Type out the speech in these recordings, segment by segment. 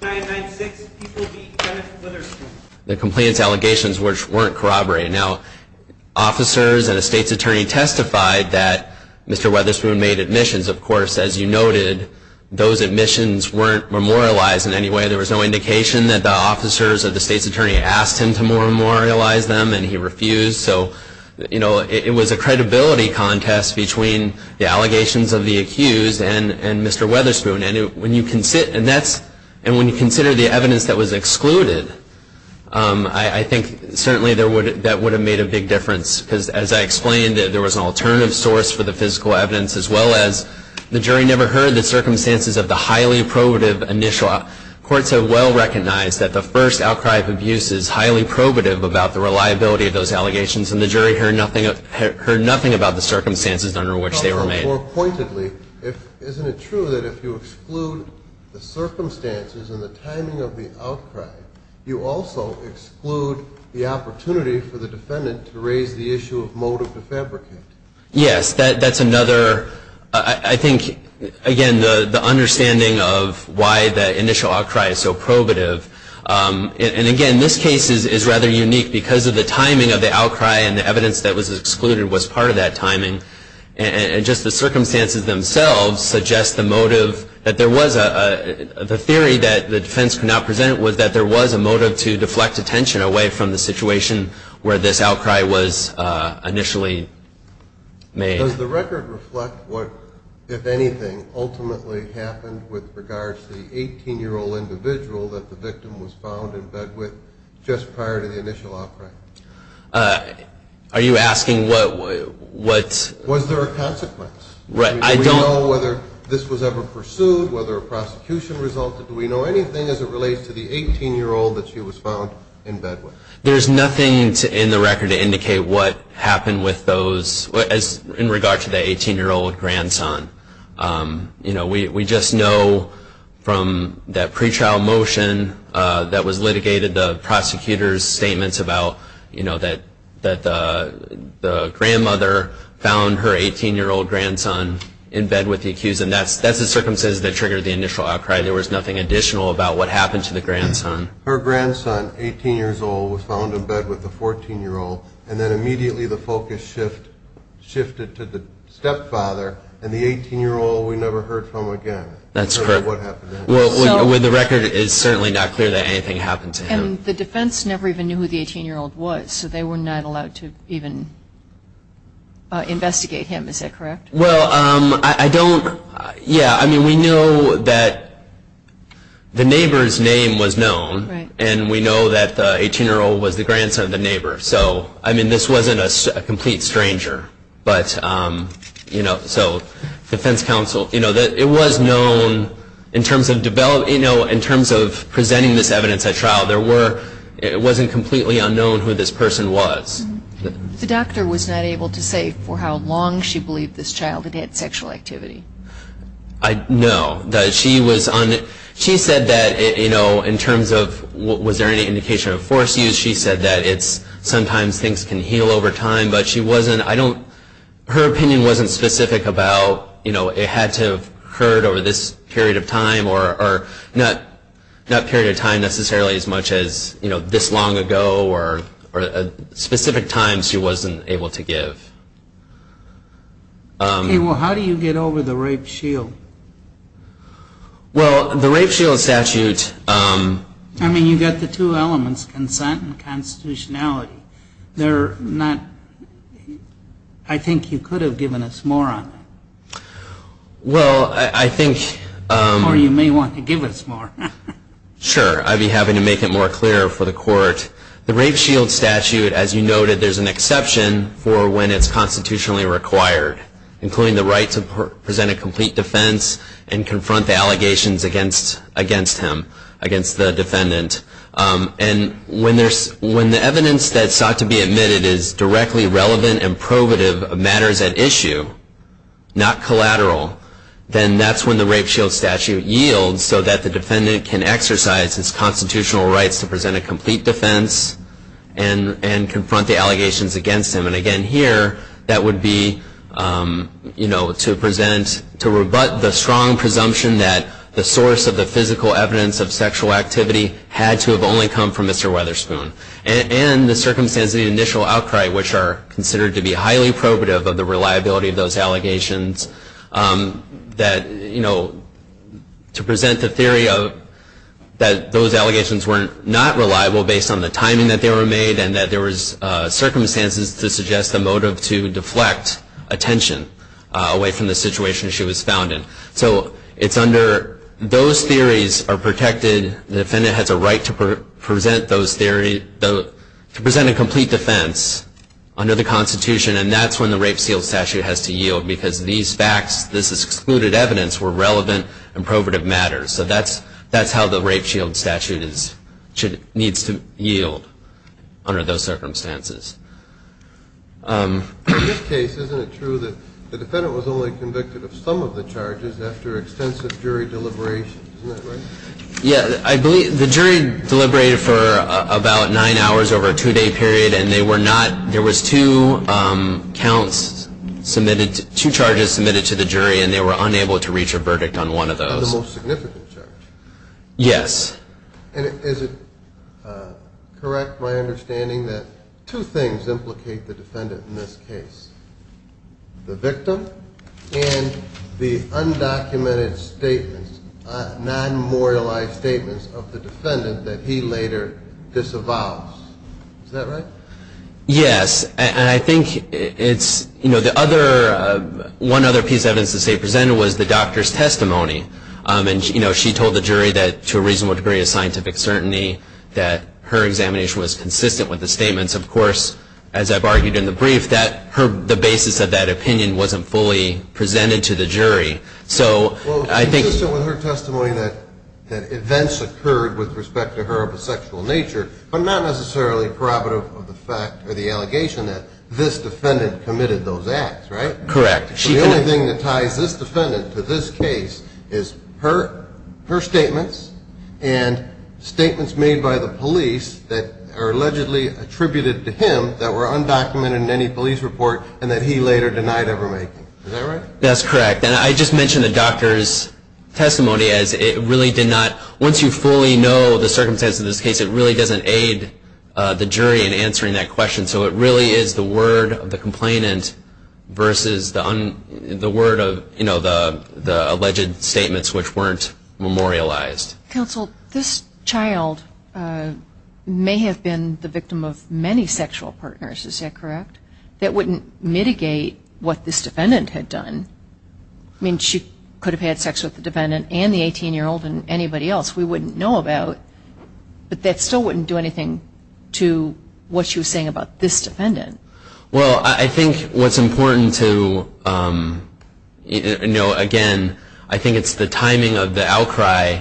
996 people beat Kenneth Weatherspoon. The compliance allegations weren't corroborated. Now, officers and a state's attorney testified that Mr. Weatherspoon made admissions. Of course, as you noted, those admissions weren't memorialized in any way. There was no indication that the officers or the state's attorney asked him to memorialize them, and he refused. So it was a credibility contest between the allegations of the accused and Mr. Weatherspoon. And when you consider the evidence that was excluded, I think certainly that would have made a big difference. Because as I explained, there was an alternative source for the physical evidence, as well as the jury never heard the circumstances of the highly probative initial. Courts have well recognized that the first outcry of abuse is highly probative about the reliability of those allegations, and the jury heard nothing about the circumstances under which they were made. More pointedly, isn't it true that if you exclude the circumstances and the timing of the outcry, you also exclude the opportunity for the defendant to raise the issue of motive to fabricate? Yes, that's another. I think, again, the understanding of why the initial outcry is so probative. And again, this case is rather unique, because of the timing of the outcry and the evidence that was excluded was part of that timing. And just the circumstances themselves suggest the motive that there was a theory that the defense could not present was that there was a motive to deflect attention away from the situation where this outcry was initially made. Does the record reflect what, if anything, ultimately happened with regards to the 18-year-old individual that the victim was found in bed with just prior to the initial outcry? Are you asking what's? Was there a consequence? Do we know whether this was ever pursued, whether a prosecution resulted? Do we know anything as it relates to the 18-year-old that she was found in bed with? There's nothing in the record to indicate what happened with those in regard to the 18-year-old grandson. We just know from that pretrial motion that was litigated, the prosecutor's statements about that the grandmother found her 18-year-old grandson in bed with the accused. And that's the circumstances that triggered the initial outcry. There was nothing additional about what happened to the grandson. Her grandson, 18 years old, was found in bed with the 14-year-old. And then immediately, the focus shifted to the stepfather and the 18-year-old we never heard from again. That's correct. And that's what happened. With the record, it is certainly not clear that anything happened to him. And the defense never even knew who the 18-year-old was. So they were not allowed to even investigate him. Is that correct? Well, I don't. Yeah, I mean, we know that the neighbor's name was known. And we know that the 18-year-old was the grandson of the neighbor. So I mean, this wasn't a complete stranger. But so defense counsel, it was known in terms of developing, in terms of presenting this evidence at trial, it wasn't completely unknown who this person was. The doctor was not able to say for how long she believed this child had had sexual activity. No. She said that in terms of was there any indication of forced use, she said that sometimes things can heal over time. But she wasn't, I don't, her opinion wasn't specific about it had to have occurred over this period of time or not period of time necessarily as much as this long ago or specific times she wasn't able to give. OK, well, how do you get over the rape shield? Well, the rape shield statute. I mean, you've got the two elements, consent and constitutionality. They're not, I think you could have given us more on that. Well, I think. Or you may want to give us more. Sure, I'd be happy to make it more clear for the court. The rape shield statute, as you noted, there's an exception for when it's constitutionally required, including the right to present a complete defense and confront the allegations against him, against the defendant. And when the evidence that's sought to be admitted is directly relevant and probative of matters at issue, not collateral, then that's when the rape shield statute yields so that the defendant can exercise his constitutional rights to present a complete defense and confront the allegations against him. And again, here, that would be to rebut the strong presumption that the source of the physical evidence of sexual activity had to have only come from Mr. Weatherspoon. And the circumstances of the initial outcry, which are considered to be highly probative of the reliability of those allegations, that to present the theory that those allegations were not reliable based on the timing that they were made and that there was circumstances to suggest the motive to deflect attention away from the situation she was found in. So it's under those theories are protected. The defendant has a right to present a complete defense under the Constitution. And that's when the rape shield statute has to yield. Because these facts, this is excluded evidence, were relevant and probative of matters. So that's how the rape shield statute needs to yield under those circumstances. In this case, isn't it true that the defendant was only convicted of some of the charges after extensive jury deliberation, isn't that right? Yeah, I believe the jury deliberated for about nine hours over a two-day period. There was two charges submitted to the jury, and they were unable to reach a verdict on one of those. Of the most significant charge? Yes. And is it correct my understanding that two things implicate the defendant in this case, the victim and the undocumented statements, non-memorialized statements of the defendant that he later disavows? Is that right? Yes. And I think it's, you know, the other, one other piece of evidence to say presented was the doctor's testimony. And she told the jury that, to a reasonable degree of scientific certainty, that her examination was consistent with the statements. Of course, as I've argued in the brief, that the basis of that opinion wasn't fully presented to the jury. So I think. Consistent with her testimony that events occurred with respect to her homosexual nature, but not necessarily probative of the fact or the allegation that this defendant committed those acts, right? Correct. The only thing that ties this defendant to this case is her statements and statements made by the police that are allegedly attributed to him that were undocumented in any police report and that he later denied ever making. Is that right? That's correct. And I just mentioned the doctor's testimony as it really did not. Once you fully know the circumstances of this case, it really doesn't aid the jury in answering that question. So it really is the word of the complainant versus the word of the alleged statements which weren't memorialized. Counsel, this child may have been the victim of many sexual partners. Is that correct? That wouldn't mitigate what this defendant had done. I mean, she could have had sex with the defendant and the 18-year-old and anybody else we wouldn't know about. But that still wouldn't do anything to what she was saying about this defendant. Well, I think what's important to know again, I think it's the timing of the outcry.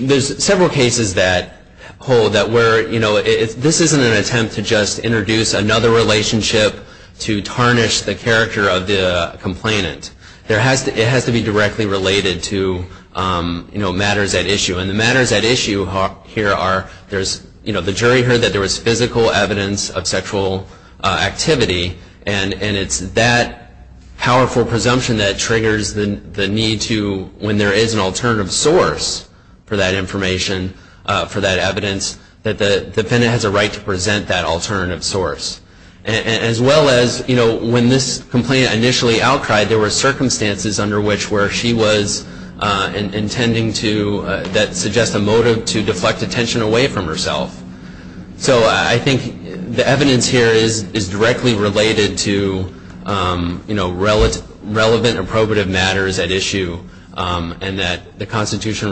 There's several cases that hold that where this isn't an attempt to just introduce another relationship to tarnish the character of the complainant. It has to be directly related to matters at issue. And the matters at issue here are the jury heard that there was physical evidence of sexual activity. And it's that powerful presumption that triggers the need to, when there is an alternative source for that information, for that evidence, that the defendant has a right to present that alternative source. As well as when this complainant initially outcried, there were circumstances under which where she was intending to suggest a motive to deflect attention away from herself. So I think the evidence here is directly related to relevant and probative matters at issue, and that the Constitution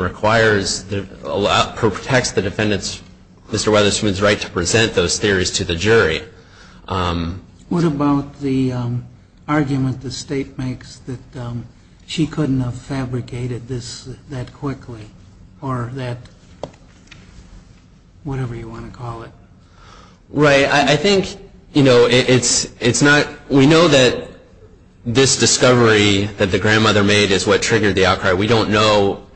protects the defendant's, Mr. Weatherspoon's, right to present those theories to the jury. What about the argument the state makes that she couldn't have fabricated this that quickly, or that whatever you want to call it? Right, I think, you know, it's not, we know that this discovery that the grandmother made is what triggered the outcry. We don't know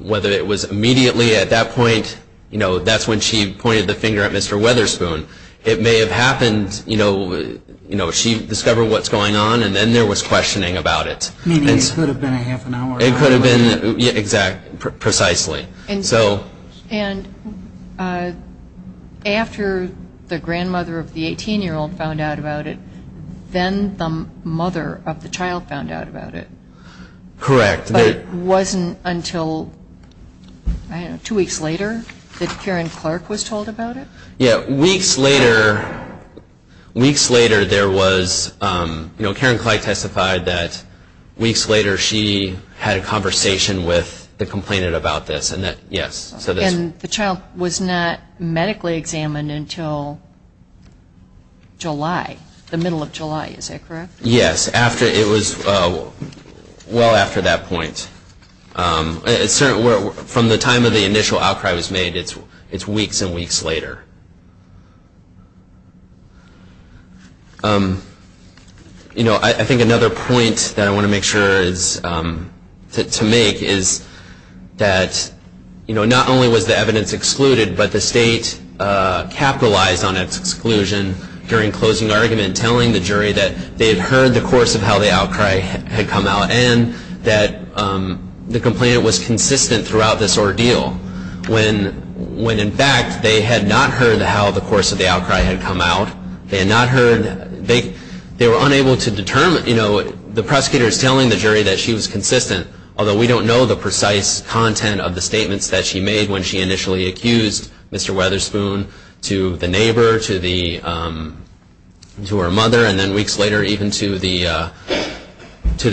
whether it was immediately at that point, you know, that's when she pointed the finger at Mr. Weatherspoon. It may have happened, you know, she discovered what's going on, and then there was questioning about it. Meaning it could have been a half an hour earlier. It could have been, exactly, precisely. And after the grandmother of the 18-year-old found out about it, then the mother of the child found out about it. Correct. But it wasn't until, I don't know, two weeks later that Karen Clark was told about it? Yeah, weeks later there was, you know, Karen Clark testified that weeks later she had a conversation with the complainant about this, and that, yes, so this was. And the child was not medically examined until July, the middle of July, is that correct? Yes, it was well after that point. From the time of the initial outcry was made, it's weeks and weeks later. You know, I think another point that I want to make sure to make is that, you know, not only was the evidence excluded, but the state capitalized on its exclusion during closing argument, telling the jury that they had heard the course of how the outcry had come out, and that the complainant was consistent throughout this ordeal. When, in fact, they had not heard how the course of the outcry had come out, they had not heard, they were unable to determine, you know, the prosecutor is telling the jury that she was consistent, although we don't know the precise content of the statements that she made when she initially accused Mr. Weatherspoon to the neighbor, to her mother. And then weeks later, even to the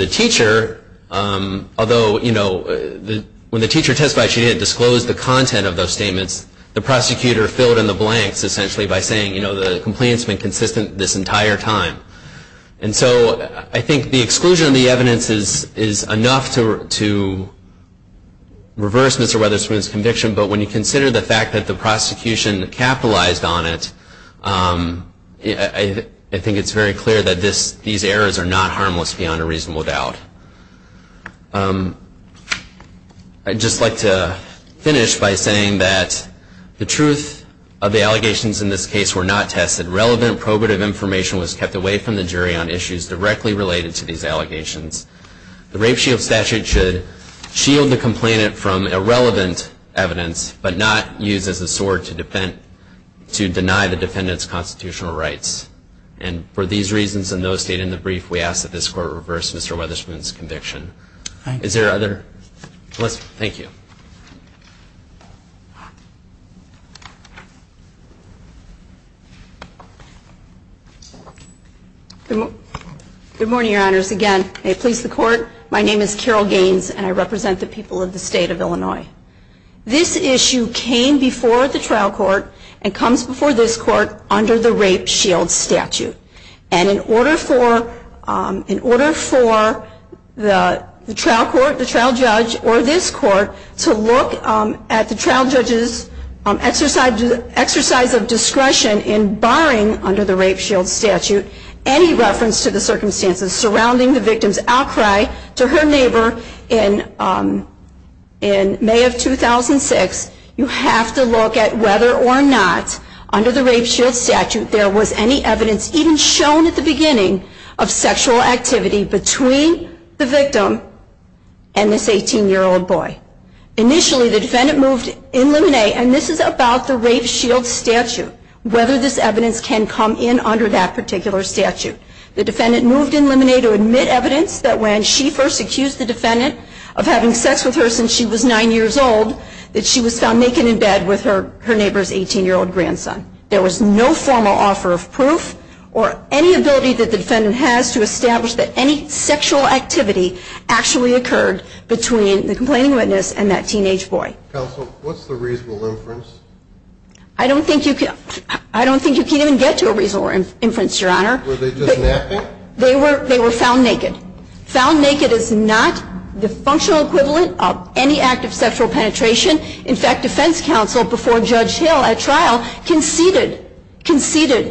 teacher. Although, you know, when the teacher testified, she didn't disclose the content of those statements. The prosecutor filled in the blanks, essentially by saying, you know, the complainant's been consistent this entire time. And so I think the exclusion of the evidence is enough to reverse Mr. Weatherspoon's conviction. But when you consider the fact that the prosecution capitalized on it, I think it's very clear that these errors are not harmless beyond a reasonable doubt. I'd just like to finish by saying that the truth of the allegations in this case were not tested. Relevant probative information was kept away from the jury on issues directly related to these allegations. The rape shield statute should shield the complainant from irrelevant evidence, but not used as a sword to deny the defendant's constitutional rights. And for these reasons and those stated in the brief, we ask that this Court reverse Mr. Weatherspoon's conviction. Is there other? Thank you. Good morning, Your Honors. Again, may it please the Court. of the state of Illinois. This issue came before the trial court and comes before this court under the rape shield statute. And in order for the trial judge or this court to look at the trial judge's exercise of discretion in barring under the rape shield statute any reference to the circumstances surrounding the victim's outcry to her neighbor in May of 2006, you have to look at whether or not under the rape shield statute there was any evidence even shown at the beginning of sexual activity between the victim and this 18-year-old boy. Initially, the defendant moved in limine, and this is about the rape shield statute, whether this evidence can come in under that particular statute. The defendant moved in limine to admit evidence that when she first accused the defendant of having sex with her since she was nine years old, that she was found naked in bed with her neighbor's 18-year-old grandson. There was no formal offer of proof or any ability that the defendant has to establish that any sexual activity actually occurred between the complaining witness and that teenage boy. Counsel, what's the reasonable inference? I don't think you can even get to a reasonable inference, Your Honor. Were they just napping? They were found naked. Found naked is not the functional equivalent of any act of sexual penetration. In fact, defense counsel before Judge Hill at trial conceded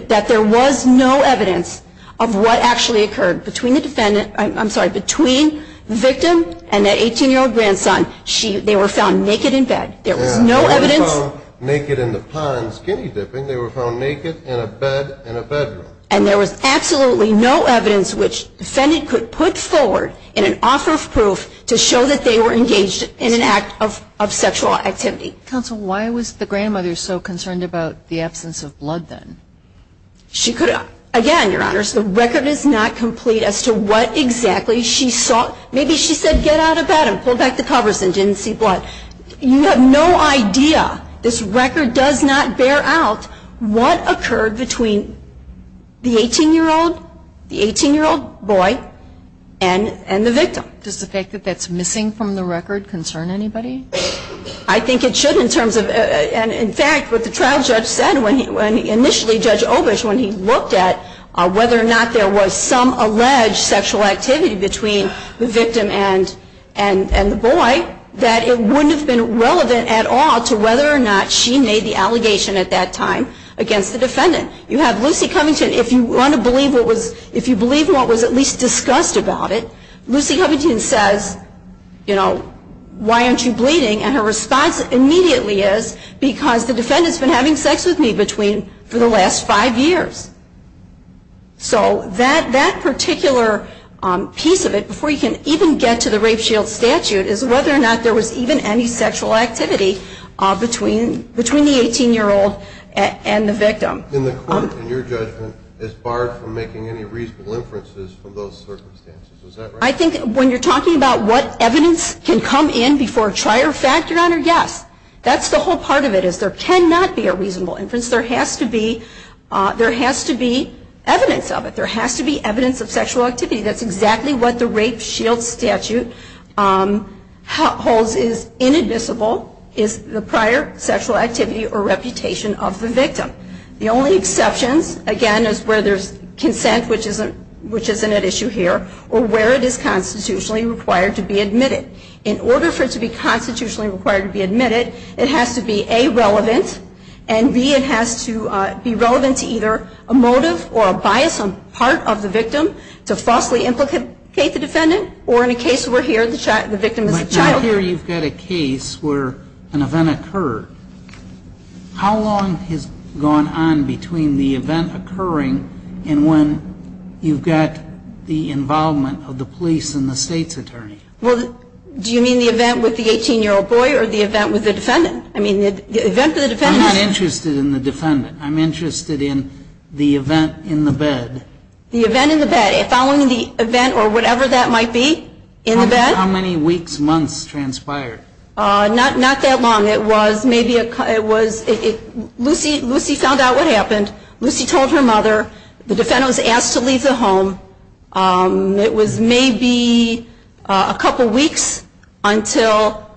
that there was no evidence of what actually occurred between the defendant, I'm sorry, between the victim and that 18-year-old grandson. They were found naked in bed. There was no evidence. They were found naked in the pond, skinny dipping. They were found naked in a bed in a bedroom. And there was absolutely no evidence which the defendant could put forward in an offer of proof to show that they were engaged in an act of sexual activity. Counsel, why was the grandmother so concerned about the absence of blood then? She could have. Again, Your Honors, the record is not complete as to what exactly she saw. Maybe she said, get out of bed and pull back the covers and didn't see blood. You have no idea. This record does not bear out what occurred between the 18-year-old boy and the victim. Does the fact that that's missing from the record concern anybody? I think it should in terms of, and in fact, what the trial judge said when he initially, Judge Obish, when he looked at whether or not there was some alleged sexual activity between the victim and the boy, that it wouldn't have been relevant at all to whether or not she made the allegation at that time against the defendant. You have Lucy Covington. If you want to believe what was at least discussed about it, Lucy Covington says, why aren't you bleeding? And her response immediately is, because the defendant's been having sex with me for the last five years. So that particular piece of it, before you can even get to the rape shield statute, is whether or not there was even any sexual activity between the 18-year-old and the victim. In the court, in your judgment, it's barred from making any reasonable inferences from those circumstances. Is that right? I think when you're talking about what evidence can come in before a trial, you're factored on a yes. That's the whole part of it, is there cannot be a reasonable inference. There has to be evidence of it. There has to be evidence of sexual activity. That's exactly what the rape shield statute holds as inadmissible, is the prior sexual activity or reputation of the victim. The only exceptions, again, is where there's consent, which isn't at issue here, or where it is constitutionally required to be admitted. In order for it to be constitutionally required to be admitted, it has to be A, relevant, and B, it has to be relevant to either a motive or a bias on part of the victim to falsely implicate the defendant, or in a case where here, the victim is a child. But here you've got a case where an event occurred. How long has gone on between the event occurring and when you've got the involvement of the police and the state's attorney? Well, do you mean the event with the 18-year-old boy or the event with the defendant? I mean, the event with the defendant is. I'm not interested in the defendant. The event in the bed, following the event or whatever that might be, in the bed? How many weeks, months transpired? Not that long. Lucy found out what happened. Lucy told her mother. The defendant was asked to leave the home. It was maybe a couple of weeks until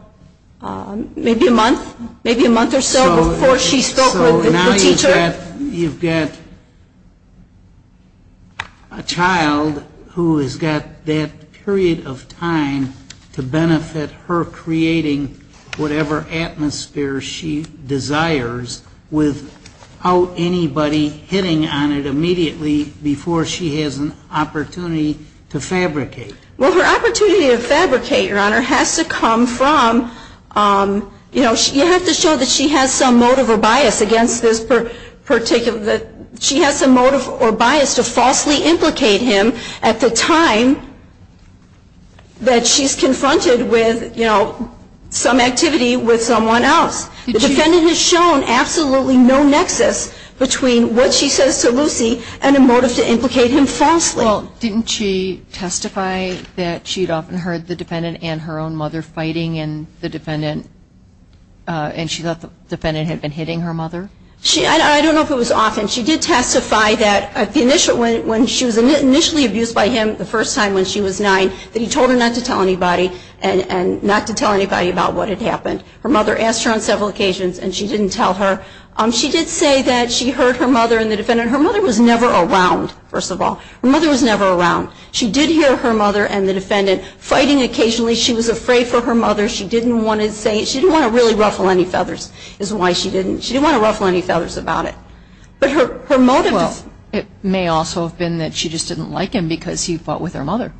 maybe a month, maybe a month or so before she spoke with the teacher. You've got a child who has got that period of time to benefit her creating whatever atmosphere she desires without anybody hitting on it immediately before she has an opportunity to fabricate. Well, her opportunity to fabricate, Your Honor, has to come from, you know, you have to show that she has some motive or bias against this. She has some motive or bias to falsely implicate him at the time that she's confronted with some activity with someone else. The defendant has shown absolutely no nexus between what she says to Lucy and a motive to implicate him falsely. Well, didn't she testify that she'd often heard the defendant and her own mother fighting and the defendant and she thought the defendant had been hitting her mother? I don't know if it was often. She did testify that when she was initially abused by him the first time when she was nine, that he told her not to tell anybody and not to tell anybody about what had happened. Her mother asked her on several occasions and she didn't tell her. She did say that she heard her mother and the defendant. Her mother was never around, first of all. Her mother was never around. She did hear her mother and the defendant fighting occasionally. She was afraid for her mother. She didn't want to say it. She didn't want to really ruffle any feathers is why she didn't. She didn't want to ruffle any feathers about it. But her motive is. It may also have been that she just didn't like him because he fought with her mother.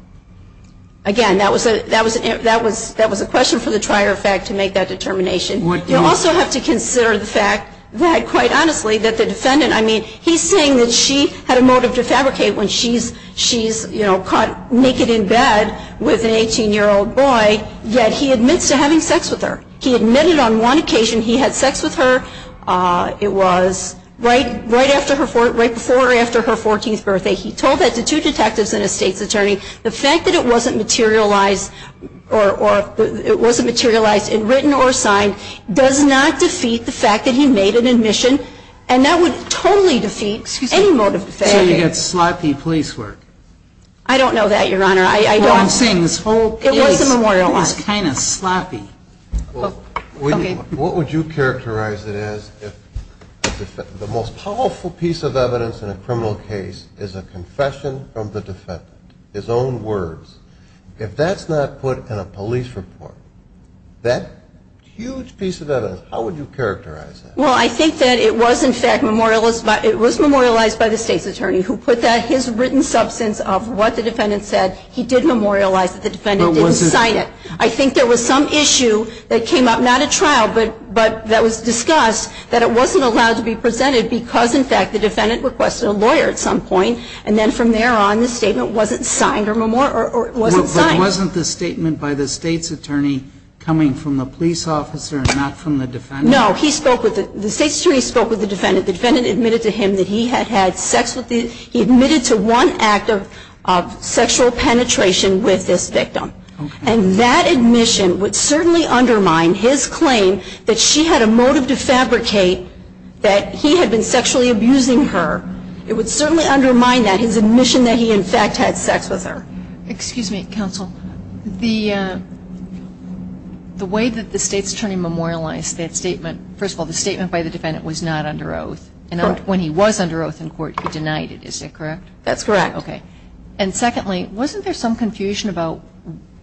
Again, that was a question for the trier of fact to make that determination. You also have to consider the fact that, quite honestly, that the defendant, I mean, he's saying that she had a motive to fabricate when she's caught naked in bed with an 18-year-old boy, yet he admits to having sex with her. He admitted on one occasion he had sex with her. It was right before or after her 14th birthday. He told that to two detectives and a state's attorney. The fact that it wasn't materialized in written or signed does not defeat the fact that he made an admission. And that would totally defeat any motive to fabricate. So you get sloppy police work. I don't know that, Your Honor. Well, I'm saying this whole case is kind of sloppy. What would you characterize it as if the most powerful piece of evidence in a criminal case is a confession from the defendant, his own words? If that's not put in a police report, that huge piece of evidence, how would you characterize it? Well, I think that it was, in fact, it was memorialized by the state's attorney who put that, his written substance of what the defendant said. He did memorialize it. The defendant didn't sign it. I think there was some issue that came up, not a trial, but that was discussed, that it wasn't allowed to be presented because, in fact, the defendant requested a lawyer at some point. And then from there on, the statement wasn't signed. But wasn't the statement by the state's attorney coming from the police officer and not from the defendant? No. The state's attorney spoke with the defendant. The defendant admitted to him that he had had sex with the, he admitted to one act of sexual penetration with this victim. And that admission would certainly undermine his claim that she had a motive to fabricate that he had been sexually abusing her. It would certainly undermine that, his admission that he, in fact, had sex with her. Excuse me, counsel. The way that the state's attorney memorialized that statement, first of all, the statement by the defendant was not under oath. And when he was under oath in court, he denied it, is that correct? That's correct. OK. And secondly, wasn't there some confusion about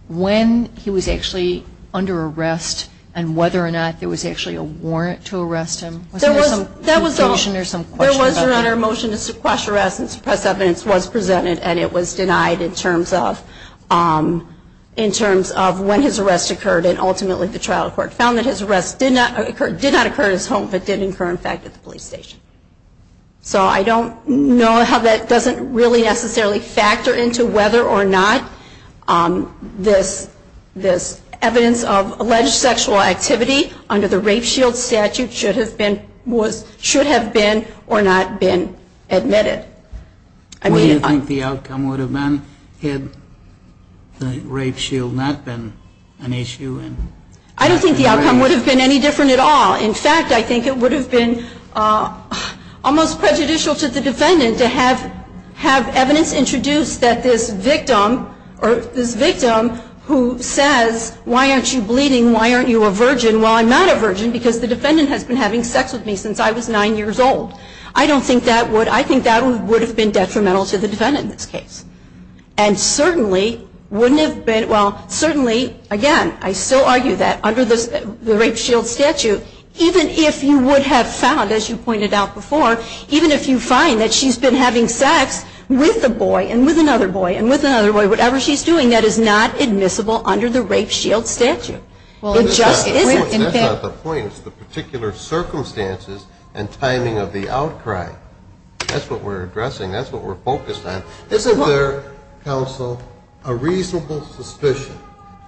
when he was actually under arrest and whether or not there was actually a warrant to arrest him? Wasn't there some confusion or some question about that? There was, Your Honor. A motion to suppress arrest and suppress evidence was presented. And it was denied in terms of when his arrest occurred. And ultimately, the trial court found that his arrest did not occur at his home, but did occur, in fact, at the police station. So I don't know how that doesn't really necessarily factor into whether or not this evidence of alleged sexual activity under the rape shield statute should have been or not been admitted. Well, do you think the outcome would have been had the rape shield not been an issue? I don't think the outcome would have been any different at all. In fact, I think it would have been almost prejudicial to the defendant to have evidence introduced that this victim who says, why aren't you bleeding? Why aren't you a virgin? Well, I'm not a virgin because the defendant has been having sex with me since I was nine years old. I don't think that would. I think that would have been detrimental to the defendant in this case. And certainly, wouldn't have been. Well, certainly, again, I still argue that under the rape shield statute, even if you would have found, as you pointed out before, even if you find that she's been having sex with a boy and with another boy and with another boy, whatever she's doing, that is not admissible under the rape shield statute. Well, it just isn't. That's not the point. It's the particular circumstances and timing of the outcry. That's what we're addressing. That's what we're focused on. Isn't there, counsel, a reasonable suspicion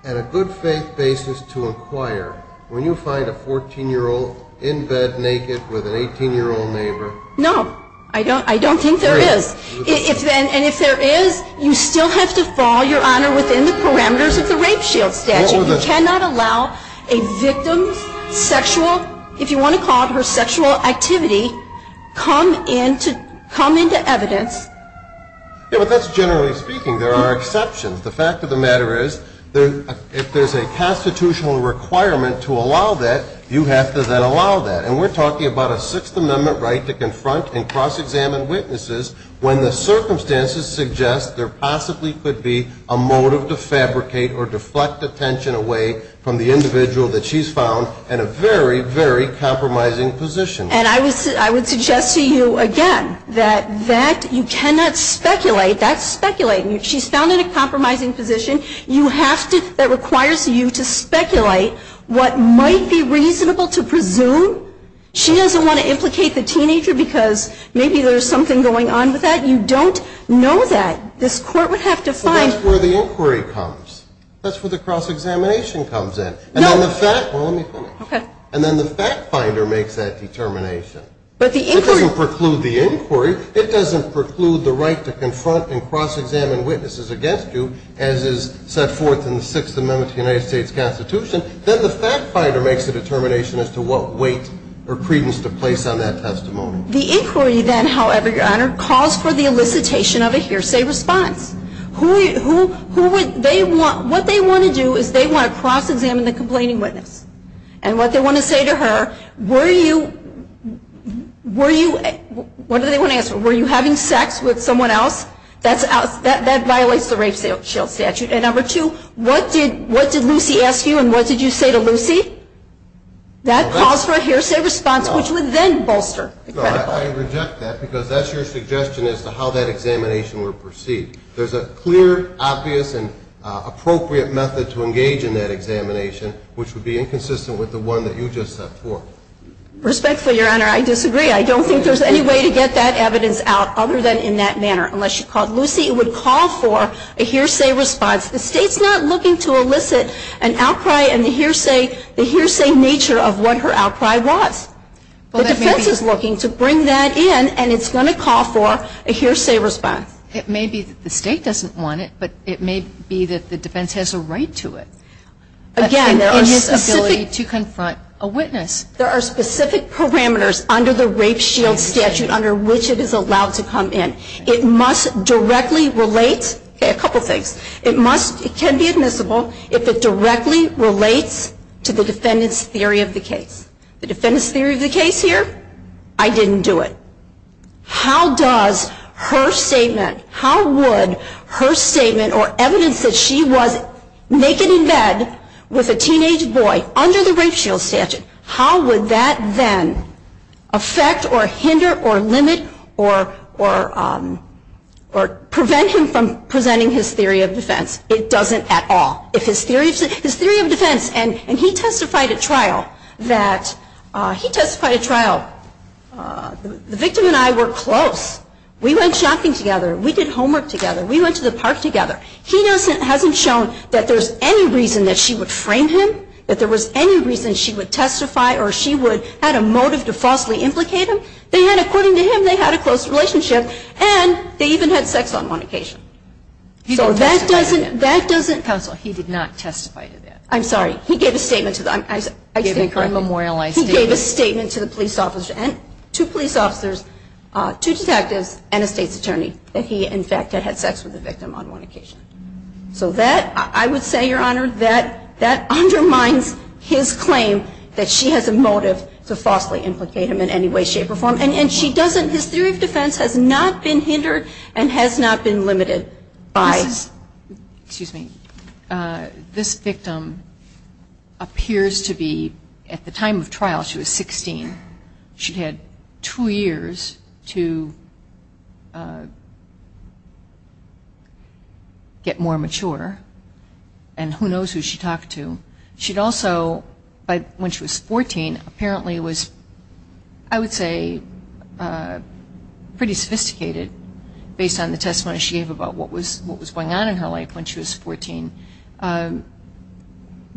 and a good faith basis to inquire when you find a 14-year-old in bed, naked, with an 18-year-old neighbor? No, I don't think there is. And if there is, you still have to fall, Your Honor, within the parameters of the rape shield statute. You cannot allow a victim's sexual, if you want to call it her sexual activity, come into evidence. Yeah, but that's generally speaking. There are exceptions. The fact of the matter is, if there's a constitutional requirement to allow that, you have to then allow that. And we're talking about a Sixth Amendment right to confront and cross-examine witnesses when the circumstances suggest there possibly could be a motive to fabricate or deflect attention away from the individual that she's found in a very, very compromising position. And I would suggest to you, again, that you cannot speculate. That's speculating. She's found in a compromising position. You have to, that requires you to speculate what might be reasonable to presume. She doesn't want to implicate the teenager because maybe there's something going on with that. You don't know that. This court would have to find. But that's where the inquiry comes. That's where the cross-examination comes in. And then the fact, well, let me finish. And then the fact finder makes that determination. But the inquiry. It doesn't preclude the inquiry. It doesn't preclude the right to confront and cross-examine witnesses against you, as is set forth in the Sixth Amendment to the United States Constitution. Then the fact finder makes a determination as to what weight or credence to place on that testimony. The inquiry, then, however, your honor, calls for the elicitation of a hearsay response. What they want to do is they want to cross-examine the complaining witness. And what they want to say to her, were you, what do they want to answer? Were you having sex with someone else? That violates the rape shield statute. And number two, what did Lucy ask you and what did you say to Lucy? That calls for a hearsay response, which would then bolster the credible. No, I reject that, because that's your suggestion as to how that examination would proceed. There's a clear, obvious, and appropriate method to engage in that examination, which would be inconsistent with the one that you just set forth. Respectfully, your honor, I disagree. I don't think there's any way to get that evidence out, other than in that manner. Unless you called Lucy, it would call for a hearsay response. The state's not looking to elicit an outcry and the hearsay nature of what her outcry was. The defense is looking to bring that in, and it's going to call for a hearsay response. It may be that the state doesn't want it, but it may be that the defense has a right to it. Again, there are specific. In his ability to confront a witness. There are specific parameters under the rape shield statute under which it is allowed to come in. It must directly relate to a couple of things. It can be admissible if it directly relates to the defendant's theory of the case. The defendant's theory of the case here, I didn't do it. How does her statement, how would her statement or evidence that she was naked in bed with a teenage boy under the rape shield statute, how would that then affect or hinder or limit or prevent him from presenting his theory of defense? It doesn't at all. If his theory of defense, and he testified at trial that he testified at trial, the victim and I were close. We went shopping together. We did homework together. We went to the park together. He hasn't shown that there's any reason that she would frame him, that there was any reason she would testify or she would have a motive to falsely implicate him. They had, according to him, they had a close relationship. And they even had sex on one occasion. So that doesn't, that doesn't. Counsel, he did not testify to that. I'm sorry. He gave a statement to the, I think I'm, he gave a statement to the police officer and two police officers, two detectives and a state's attorney that he, in fact, had had sex with the victim on one occasion. So that, I would say, Your Honor, that undermines his claim that she has a motive to falsely implicate him in any way, shape, or form. And she doesn't, his theory of defense has not been hindered and has not been limited by. Excuse me. This victim appears to be, at the time of trial, she was 16. She had two years to get more mature. And who knows who she talked to. She'd also, when she was 14, apparently was, I would say, pretty sophisticated based on the testimony she gave about what was going on in her life when she was 14.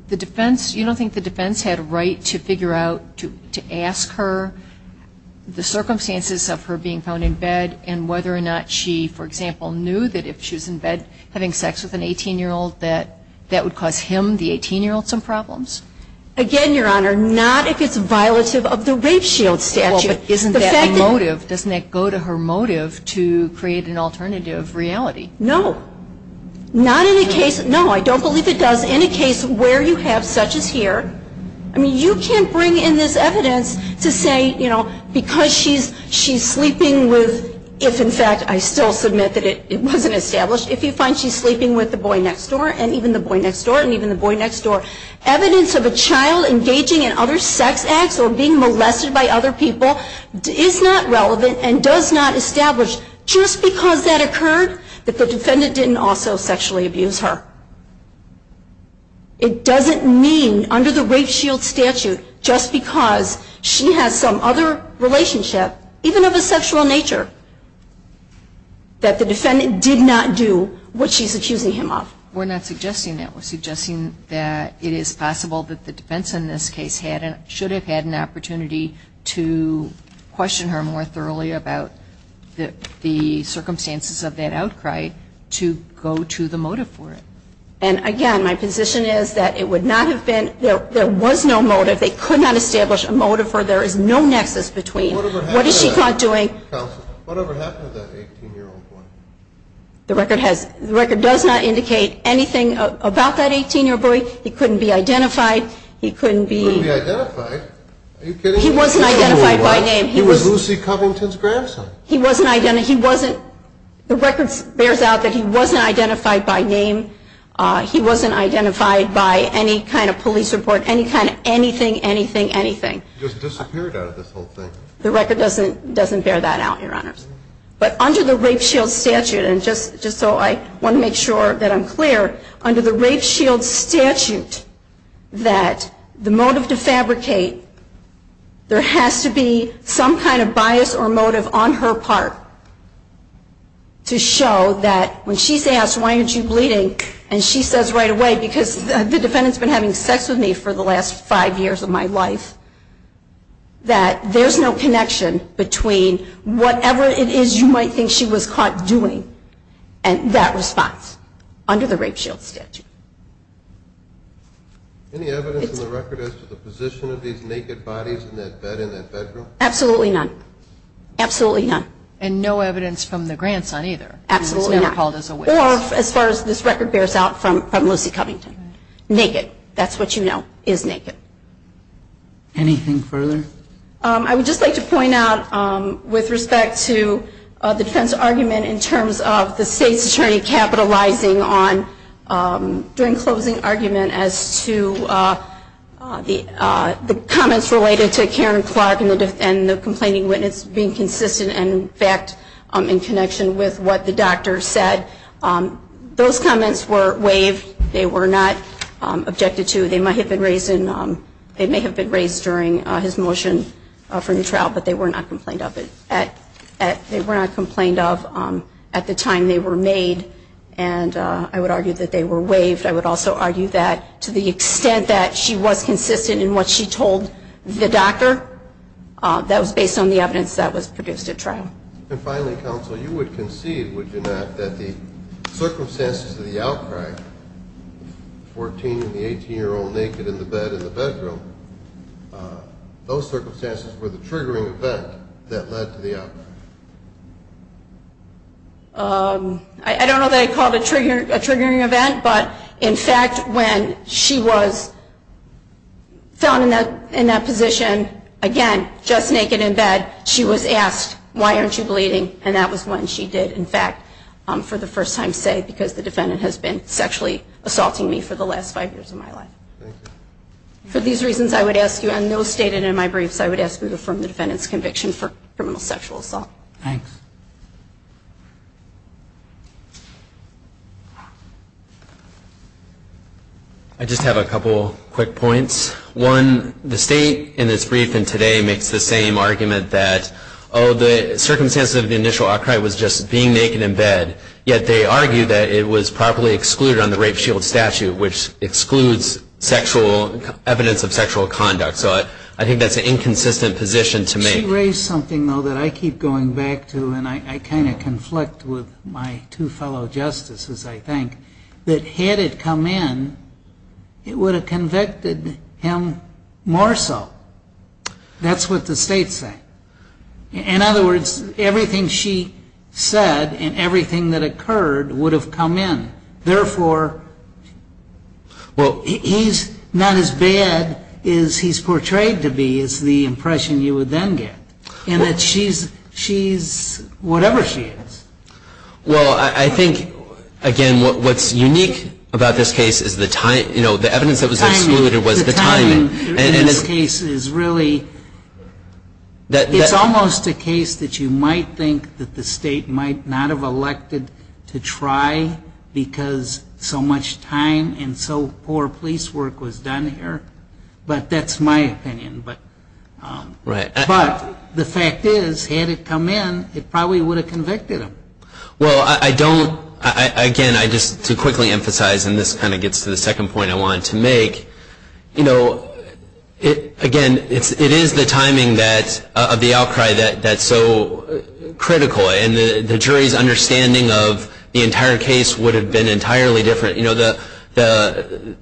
The defense, you don't think the defense had a right to figure out, to ask her the circumstances of her being found in bed and whether or not she, for example, knew that if she was in bed having sex with an 18-year-old that that would cause him, the 18-year-old, some problems? Again, Your Honor, not if it's violative of the rape shield statute. Isn't that a motive? Doesn't that go to her motive to create an alternative reality? No. Not in a case, no, I don't believe it does. In a case where you have such as here, I mean, you can't bring in this evidence to say because she's sleeping with, if, in fact, I still submit that it wasn't established. If you find she's sleeping with the boy next door and even the boy next door and even the boy next door, evidence of a child engaging in other sex acts or being molested by other people is not relevant and does not establish, just because that occurred, that the defendant didn't also sexually abuse her. It doesn't mean under the rape shield statute just because she has some other relationship, even of a sexual nature, that the defendant did not do what she's accusing him of. We're not suggesting that. We're suggesting that it is possible that the defense in this case should have had an opportunity to question her more thoroughly about the circumstances of that outcry to go to the motive for it. And again, my position is that it would not have been, there was no motive. They could not establish a motive for there is no nexus between what is she doing. Whatever happened to that 18-year-old boy? The record does not indicate anything about that 18-year-old boy. He couldn't be identified. He couldn't be. He couldn't be identified? Are you kidding me? He wasn't identified by name. He was Lucy Covington's grandson. He wasn't identified. The record bears out that he wasn't identified by name. He wasn't identified by any kind of police report, any kind of anything, anything, anything. He just disappeared out of this whole thing. The record doesn't bear that out, Your Honors. But under the Rape Shield Statute, and just so I want to make sure that I'm clear, under the Rape Shield Statute, that the motive to fabricate, there has to be some kind of bias or motive on her part to show that when she's asked, why aren't you bleeding, and she says right away, because the defendant's been having sex with me for the last five years of my life, that there's no connection between whatever it is you might think she was caught doing and that response under the Rape Shield Statute. Any evidence in the record as to the position of these naked bodies in that bed, in that bedroom? Absolutely none. Absolutely none. And no evidence from the grandson, either? Absolutely not. He was never called as a witness. Or, as far as this record bears out, from Lucy Covington. Naked. That's what you know. Is naked. Anything further? I would just like to point out, with respect to the defense argument in terms of the state's attorney capitalizing on, during closing argument, as to the comments related to Karen Clark and the complaining witness being consistent and, in fact, in connection with what the doctor said, those comments were waived. They were not objected to. They may have been raised during his motion for new trial, but they were not complained of at the time they were made. And I would argue that they were waived. I would also argue that, to the extent that she was consistent in what she told the doctor, that was based on the evidence that was produced at trial. And finally, counsel, you would concede, would you not, that the circumstances of the outcry, 14 and the 18-year-old naked in the bed in the bedroom, those circumstances were the triggering event that led to the outcry? I don't know that I called it a triggering event, but, in fact, when she was found in that position, again, just naked in bed, she was asked, why aren't you bleeding? And that was when she did, in fact, for the first time, say, because the defendant has been sexually assaulting me for the last five years of my life. For these reasons, I would ask you, and those stated in my briefs, I would ask you to affirm the defendant's conviction for criminal sexual assault. Thanks. I just have a couple quick points. One, the state, in its brief and today, makes the same argument that, oh, the circumstances of the initial outcry was just being naked in bed, yet they argue that it was properly excluded on the rape shield statute, which excludes evidence of sexual conduct. So I think that's an inconsistent position to make. She raised something, though, that I keep going back to, and I kind of conflict with my two fellow justices, I think, that had it come in, it would have convicted him more so. That's what the states say. In other words, everything she said and everything that occurred would have come in. Therefore, he's not as bad as he's portrayed to be, is the impression you would then get. And that she's whatever she is. Well, I think, again, what's unique about this case is the evidence that was excluded was the timing. And this case is really, it's almost a case that you might think that the state might not have elected to try because so much time and so poor police work was done here. But that's my opinion. But the fact is, had it come in, it probably would have convicted him. Well, I don't, again, I just, to quickly emphasize, and this kind of gets to the second point I wanted to make, again, it is the timing of the outcry that's so critical. And the jury's understanding of the entire case would have been entirely different. The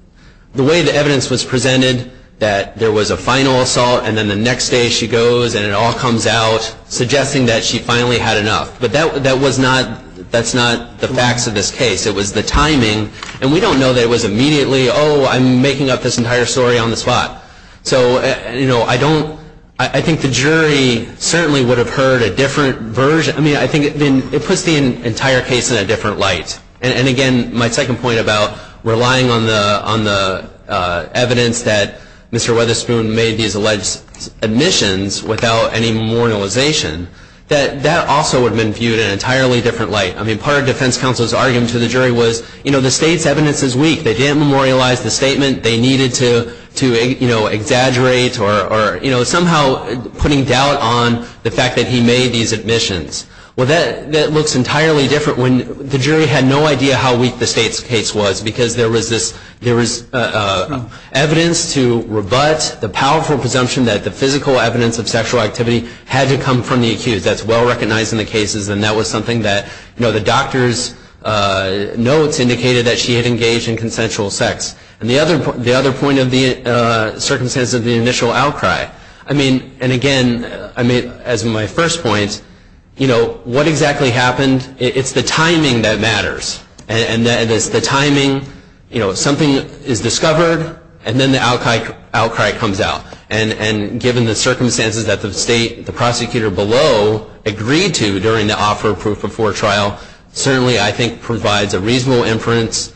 way the evidence was presented, that there was a final assault, and then the next day she goes and it all comes out suggesting that she finally had enough. But that's not the facts of this case. It was the timing. And we don't know that it was immediately, oh, I'm making up this entire story on the spot. So I don't, I think the jury certainly would have heard a different version. I mean, I think it puts the entire case in a different light. And again, my second point about relying on the evidence that Mr. Weatherspoon made these alleged admissions without any memorialization, that also would have been viewed in an entirely different light. I mean, part of defense counsel's argument to the jury was, you know, the state's evidence is weak. They didn't memorialize the statement. They needed to exaggerate or somehow putting doubt on the fact that he made these admissions. Well, that looks entirely different when the jury had no idea how weak the state's case was. Because there was evidence to rebut the powerful presumption that the physical evidence of sexual activity had to come from the accused. That's well-recognized in the cases. And that was something that the doctor's notes indicated that she had engaged in consensual sex. And the other point of the circumstances of the initial outcry, I mean, and again, as my first point, you know, what exactly happened, it's the timing that matters. And it's the timing, you know, something is discovered, and then the outcry comes out. And given the circumstances that the state, the prosecutor below, agreed to during the offer of proof before trial, certainly, I think, provides a reasonable inference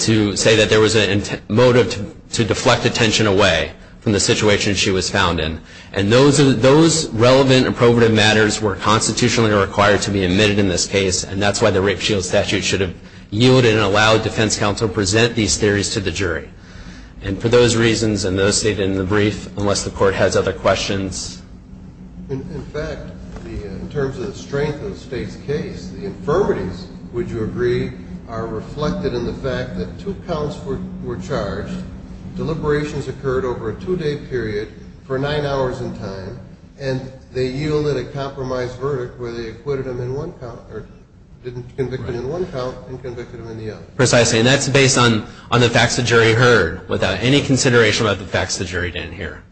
to say that there was a motive to deflect attention away from the situation she was found in. And those relevant approvative matters were constitutionally required to be admitted in this case. And that's why the Rape Shield Statute should have yielded and allowed defense counsel to present these theories to the jury. And for those reasons, and those stated in the brief, unless the court has other questions. In fact, in terms of the strength of the state's case, the infirmities, would you agree, are reflected in the fact that two counts were charged, deliberations occurred over a two day period for nine hours in time, and they yielded a compromised verdict where they acquitted him in one count, or didn't convict him in one count, and convicted him in the other. Precisely, and that's based on the facts the jury heard, without any consideration about the facts the jury didn't hear.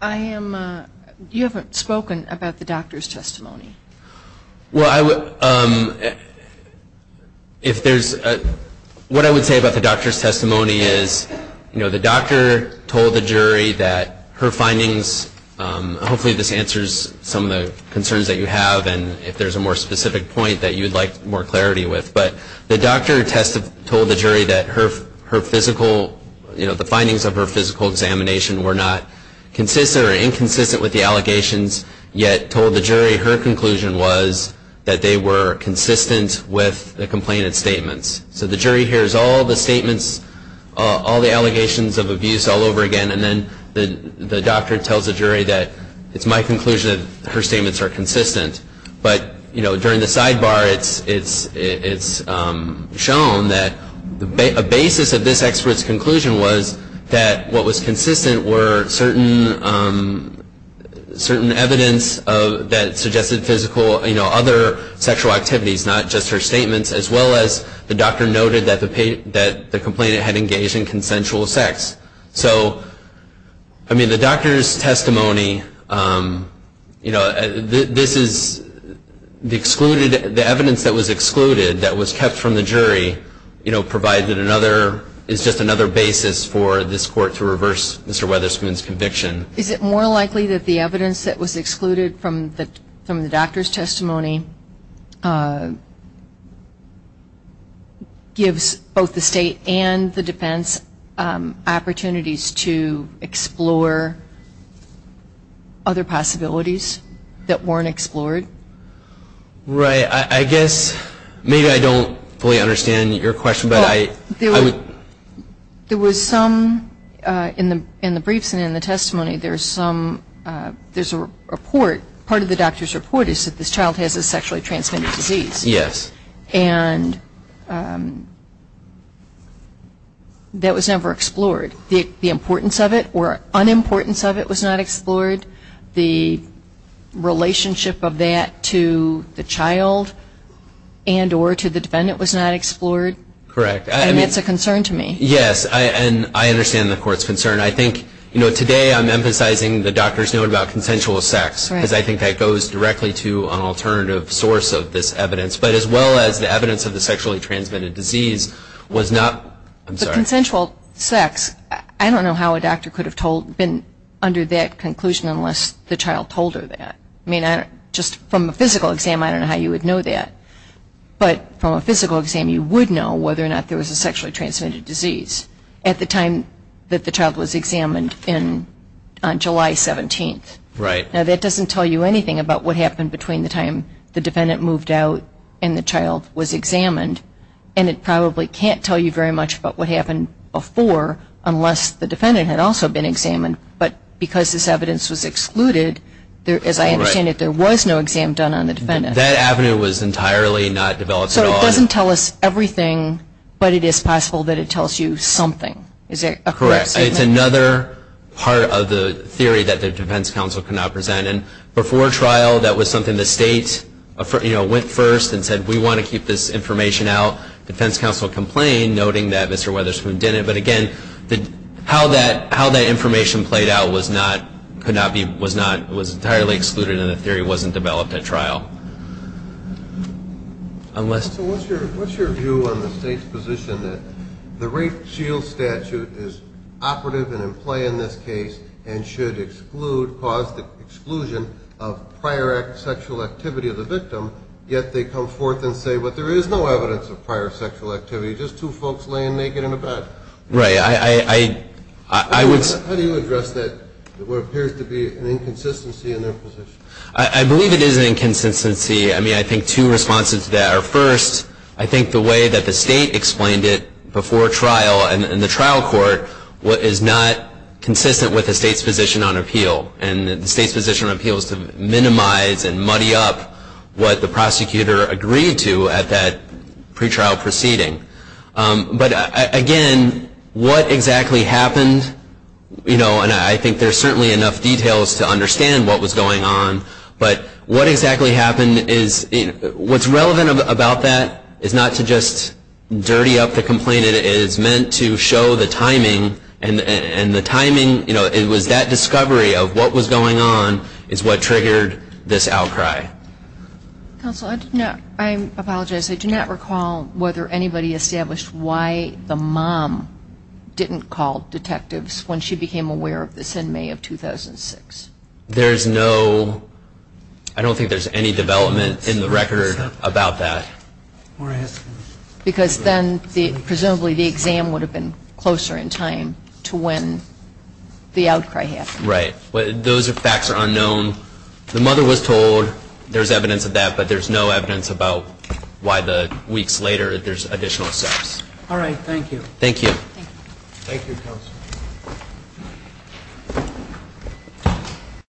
I am, you haven't spoken about the doctor's testimony. Well, I would, if there's, what I would say about the doctor's testimony is the doctor told the jury that her findings, hopefully this answers some of the concerns that you have, and if there's a more specific point that you'd like more clarity with. But the doctor told the jury that her physical, the findings of her physical examination were not consistent or inconsistent with the allegations, yet told the jury her conclusion was that they were consistent with the complainant's statements. So the jury hears all the statements, all the allegations of abuse all over again, and then the doctor tells the jury that it's my conclusion that her statements are consistent. But during the sidebar, it's shown that a basis of this expert's conclusion was that what was consistent were certain evidence that suggested physical, other sexual activities, not just her statements, as well as the doctor noted that the complainant had engaged in consensual sex. So, I mean, the doctor's testimony, this is the excluded, the evidence that was excluded, that was kept from the jury, provided another, is just another basis for this court to reverse Mr. Weatherspoon's conviction. Is it more likely that the evidence that was excluded from the doctor's testimony gives both the state and the defense opportunities to explore other possibilities that weren't explored? Right, I guess, maybe I don't fully understand your question, but I would. There was some, in the briefs and in the testimony, there's some, there's a report, part of the doctor's report is that this child has a sexually transmitted disease. Yes. And that was never explored. The importance of it, or unimportance of it to the child and or to the defendant was not explored? Correct. And that's a concern to me. Yes, and I understand the court's concern. I think, you know, today I'm emphasizing the doctor's note about consensual sex, because I think that goes directly to an alternative source of this evidence, but as well as the evidence of the sexually transmitted disease was not, I'm sorry. The consensual sex, I don't know how a doctor could have been under that conclusion unless the child told her that. I mean, just from a physical exam, I don't know how you would know that, but from a physical exam, you would know whether or not there was a sexually transmitted disease at the time that the child was examined on July 17th. Right. Now, that doesn't tell you anything about what happened between the time the defendant moved out and the child was examined, and it probably can't tell you very much about what happened before unless the defendant had also been examined, but because this evidence was excluded, as I understand it, there was no exam done on the defendant. That avenue was entirely not developed at all. So it doesn't tell us everything, but it is possible that it tells you something. Is there a correct statement? Correct, it's another part of the theory that the defense counsel cannot present, and before trial, that was something the state, you know, went first and said, we want to keep this information out. Defense counsel complained, noting that Mr. Weatherspoon didn't, but again, how that information played out could not be, was not, was entirely excluded, and the theory wasn't developed at trial. Unless. So what's your view on the state's position that the rape shield statute is operative and in play in this case, and should exclude, cause the exclusion of prior sexual activity of the victim, yet they come forth and say, well, there is no evidence of prior sexual activity, just two folks laying naked in a bed. Right, I would say. How do you address that, what appears to be an inconsistency in their position? I believe it is an inconsistency. I mean, I think two responses to that are first, I think the way that the state explained it before trial and in the trial court, what is not consistent with the state's position on appeal, and the state's position on appeal is to minimize and muddy up what the prosecutor agreed to at that pretrial proceeding. But again, what exactly happened, and I think there's certainly enough details to understand what was going on, but what exactly happened is, what's relevant about that is not to just dirty up the complaint, it is meant to show the timing, and the timing, it was that discovery of what was going on is what triggered this outcry. Counsel, I apologize, I do not recall whether anybody established why the mom didn't call detectives when she became aware of this in May of 2006. There's no, I don't think there's any development in the record about that. Because then, presumably the exam would have been closer in time to when the outcry happened. Right, those facts are unknown. The mother was told there's evidence of that, but there's no evidence about why the weeks later there's additional steps. All right, thank you. Thank you. Thank you, counsel.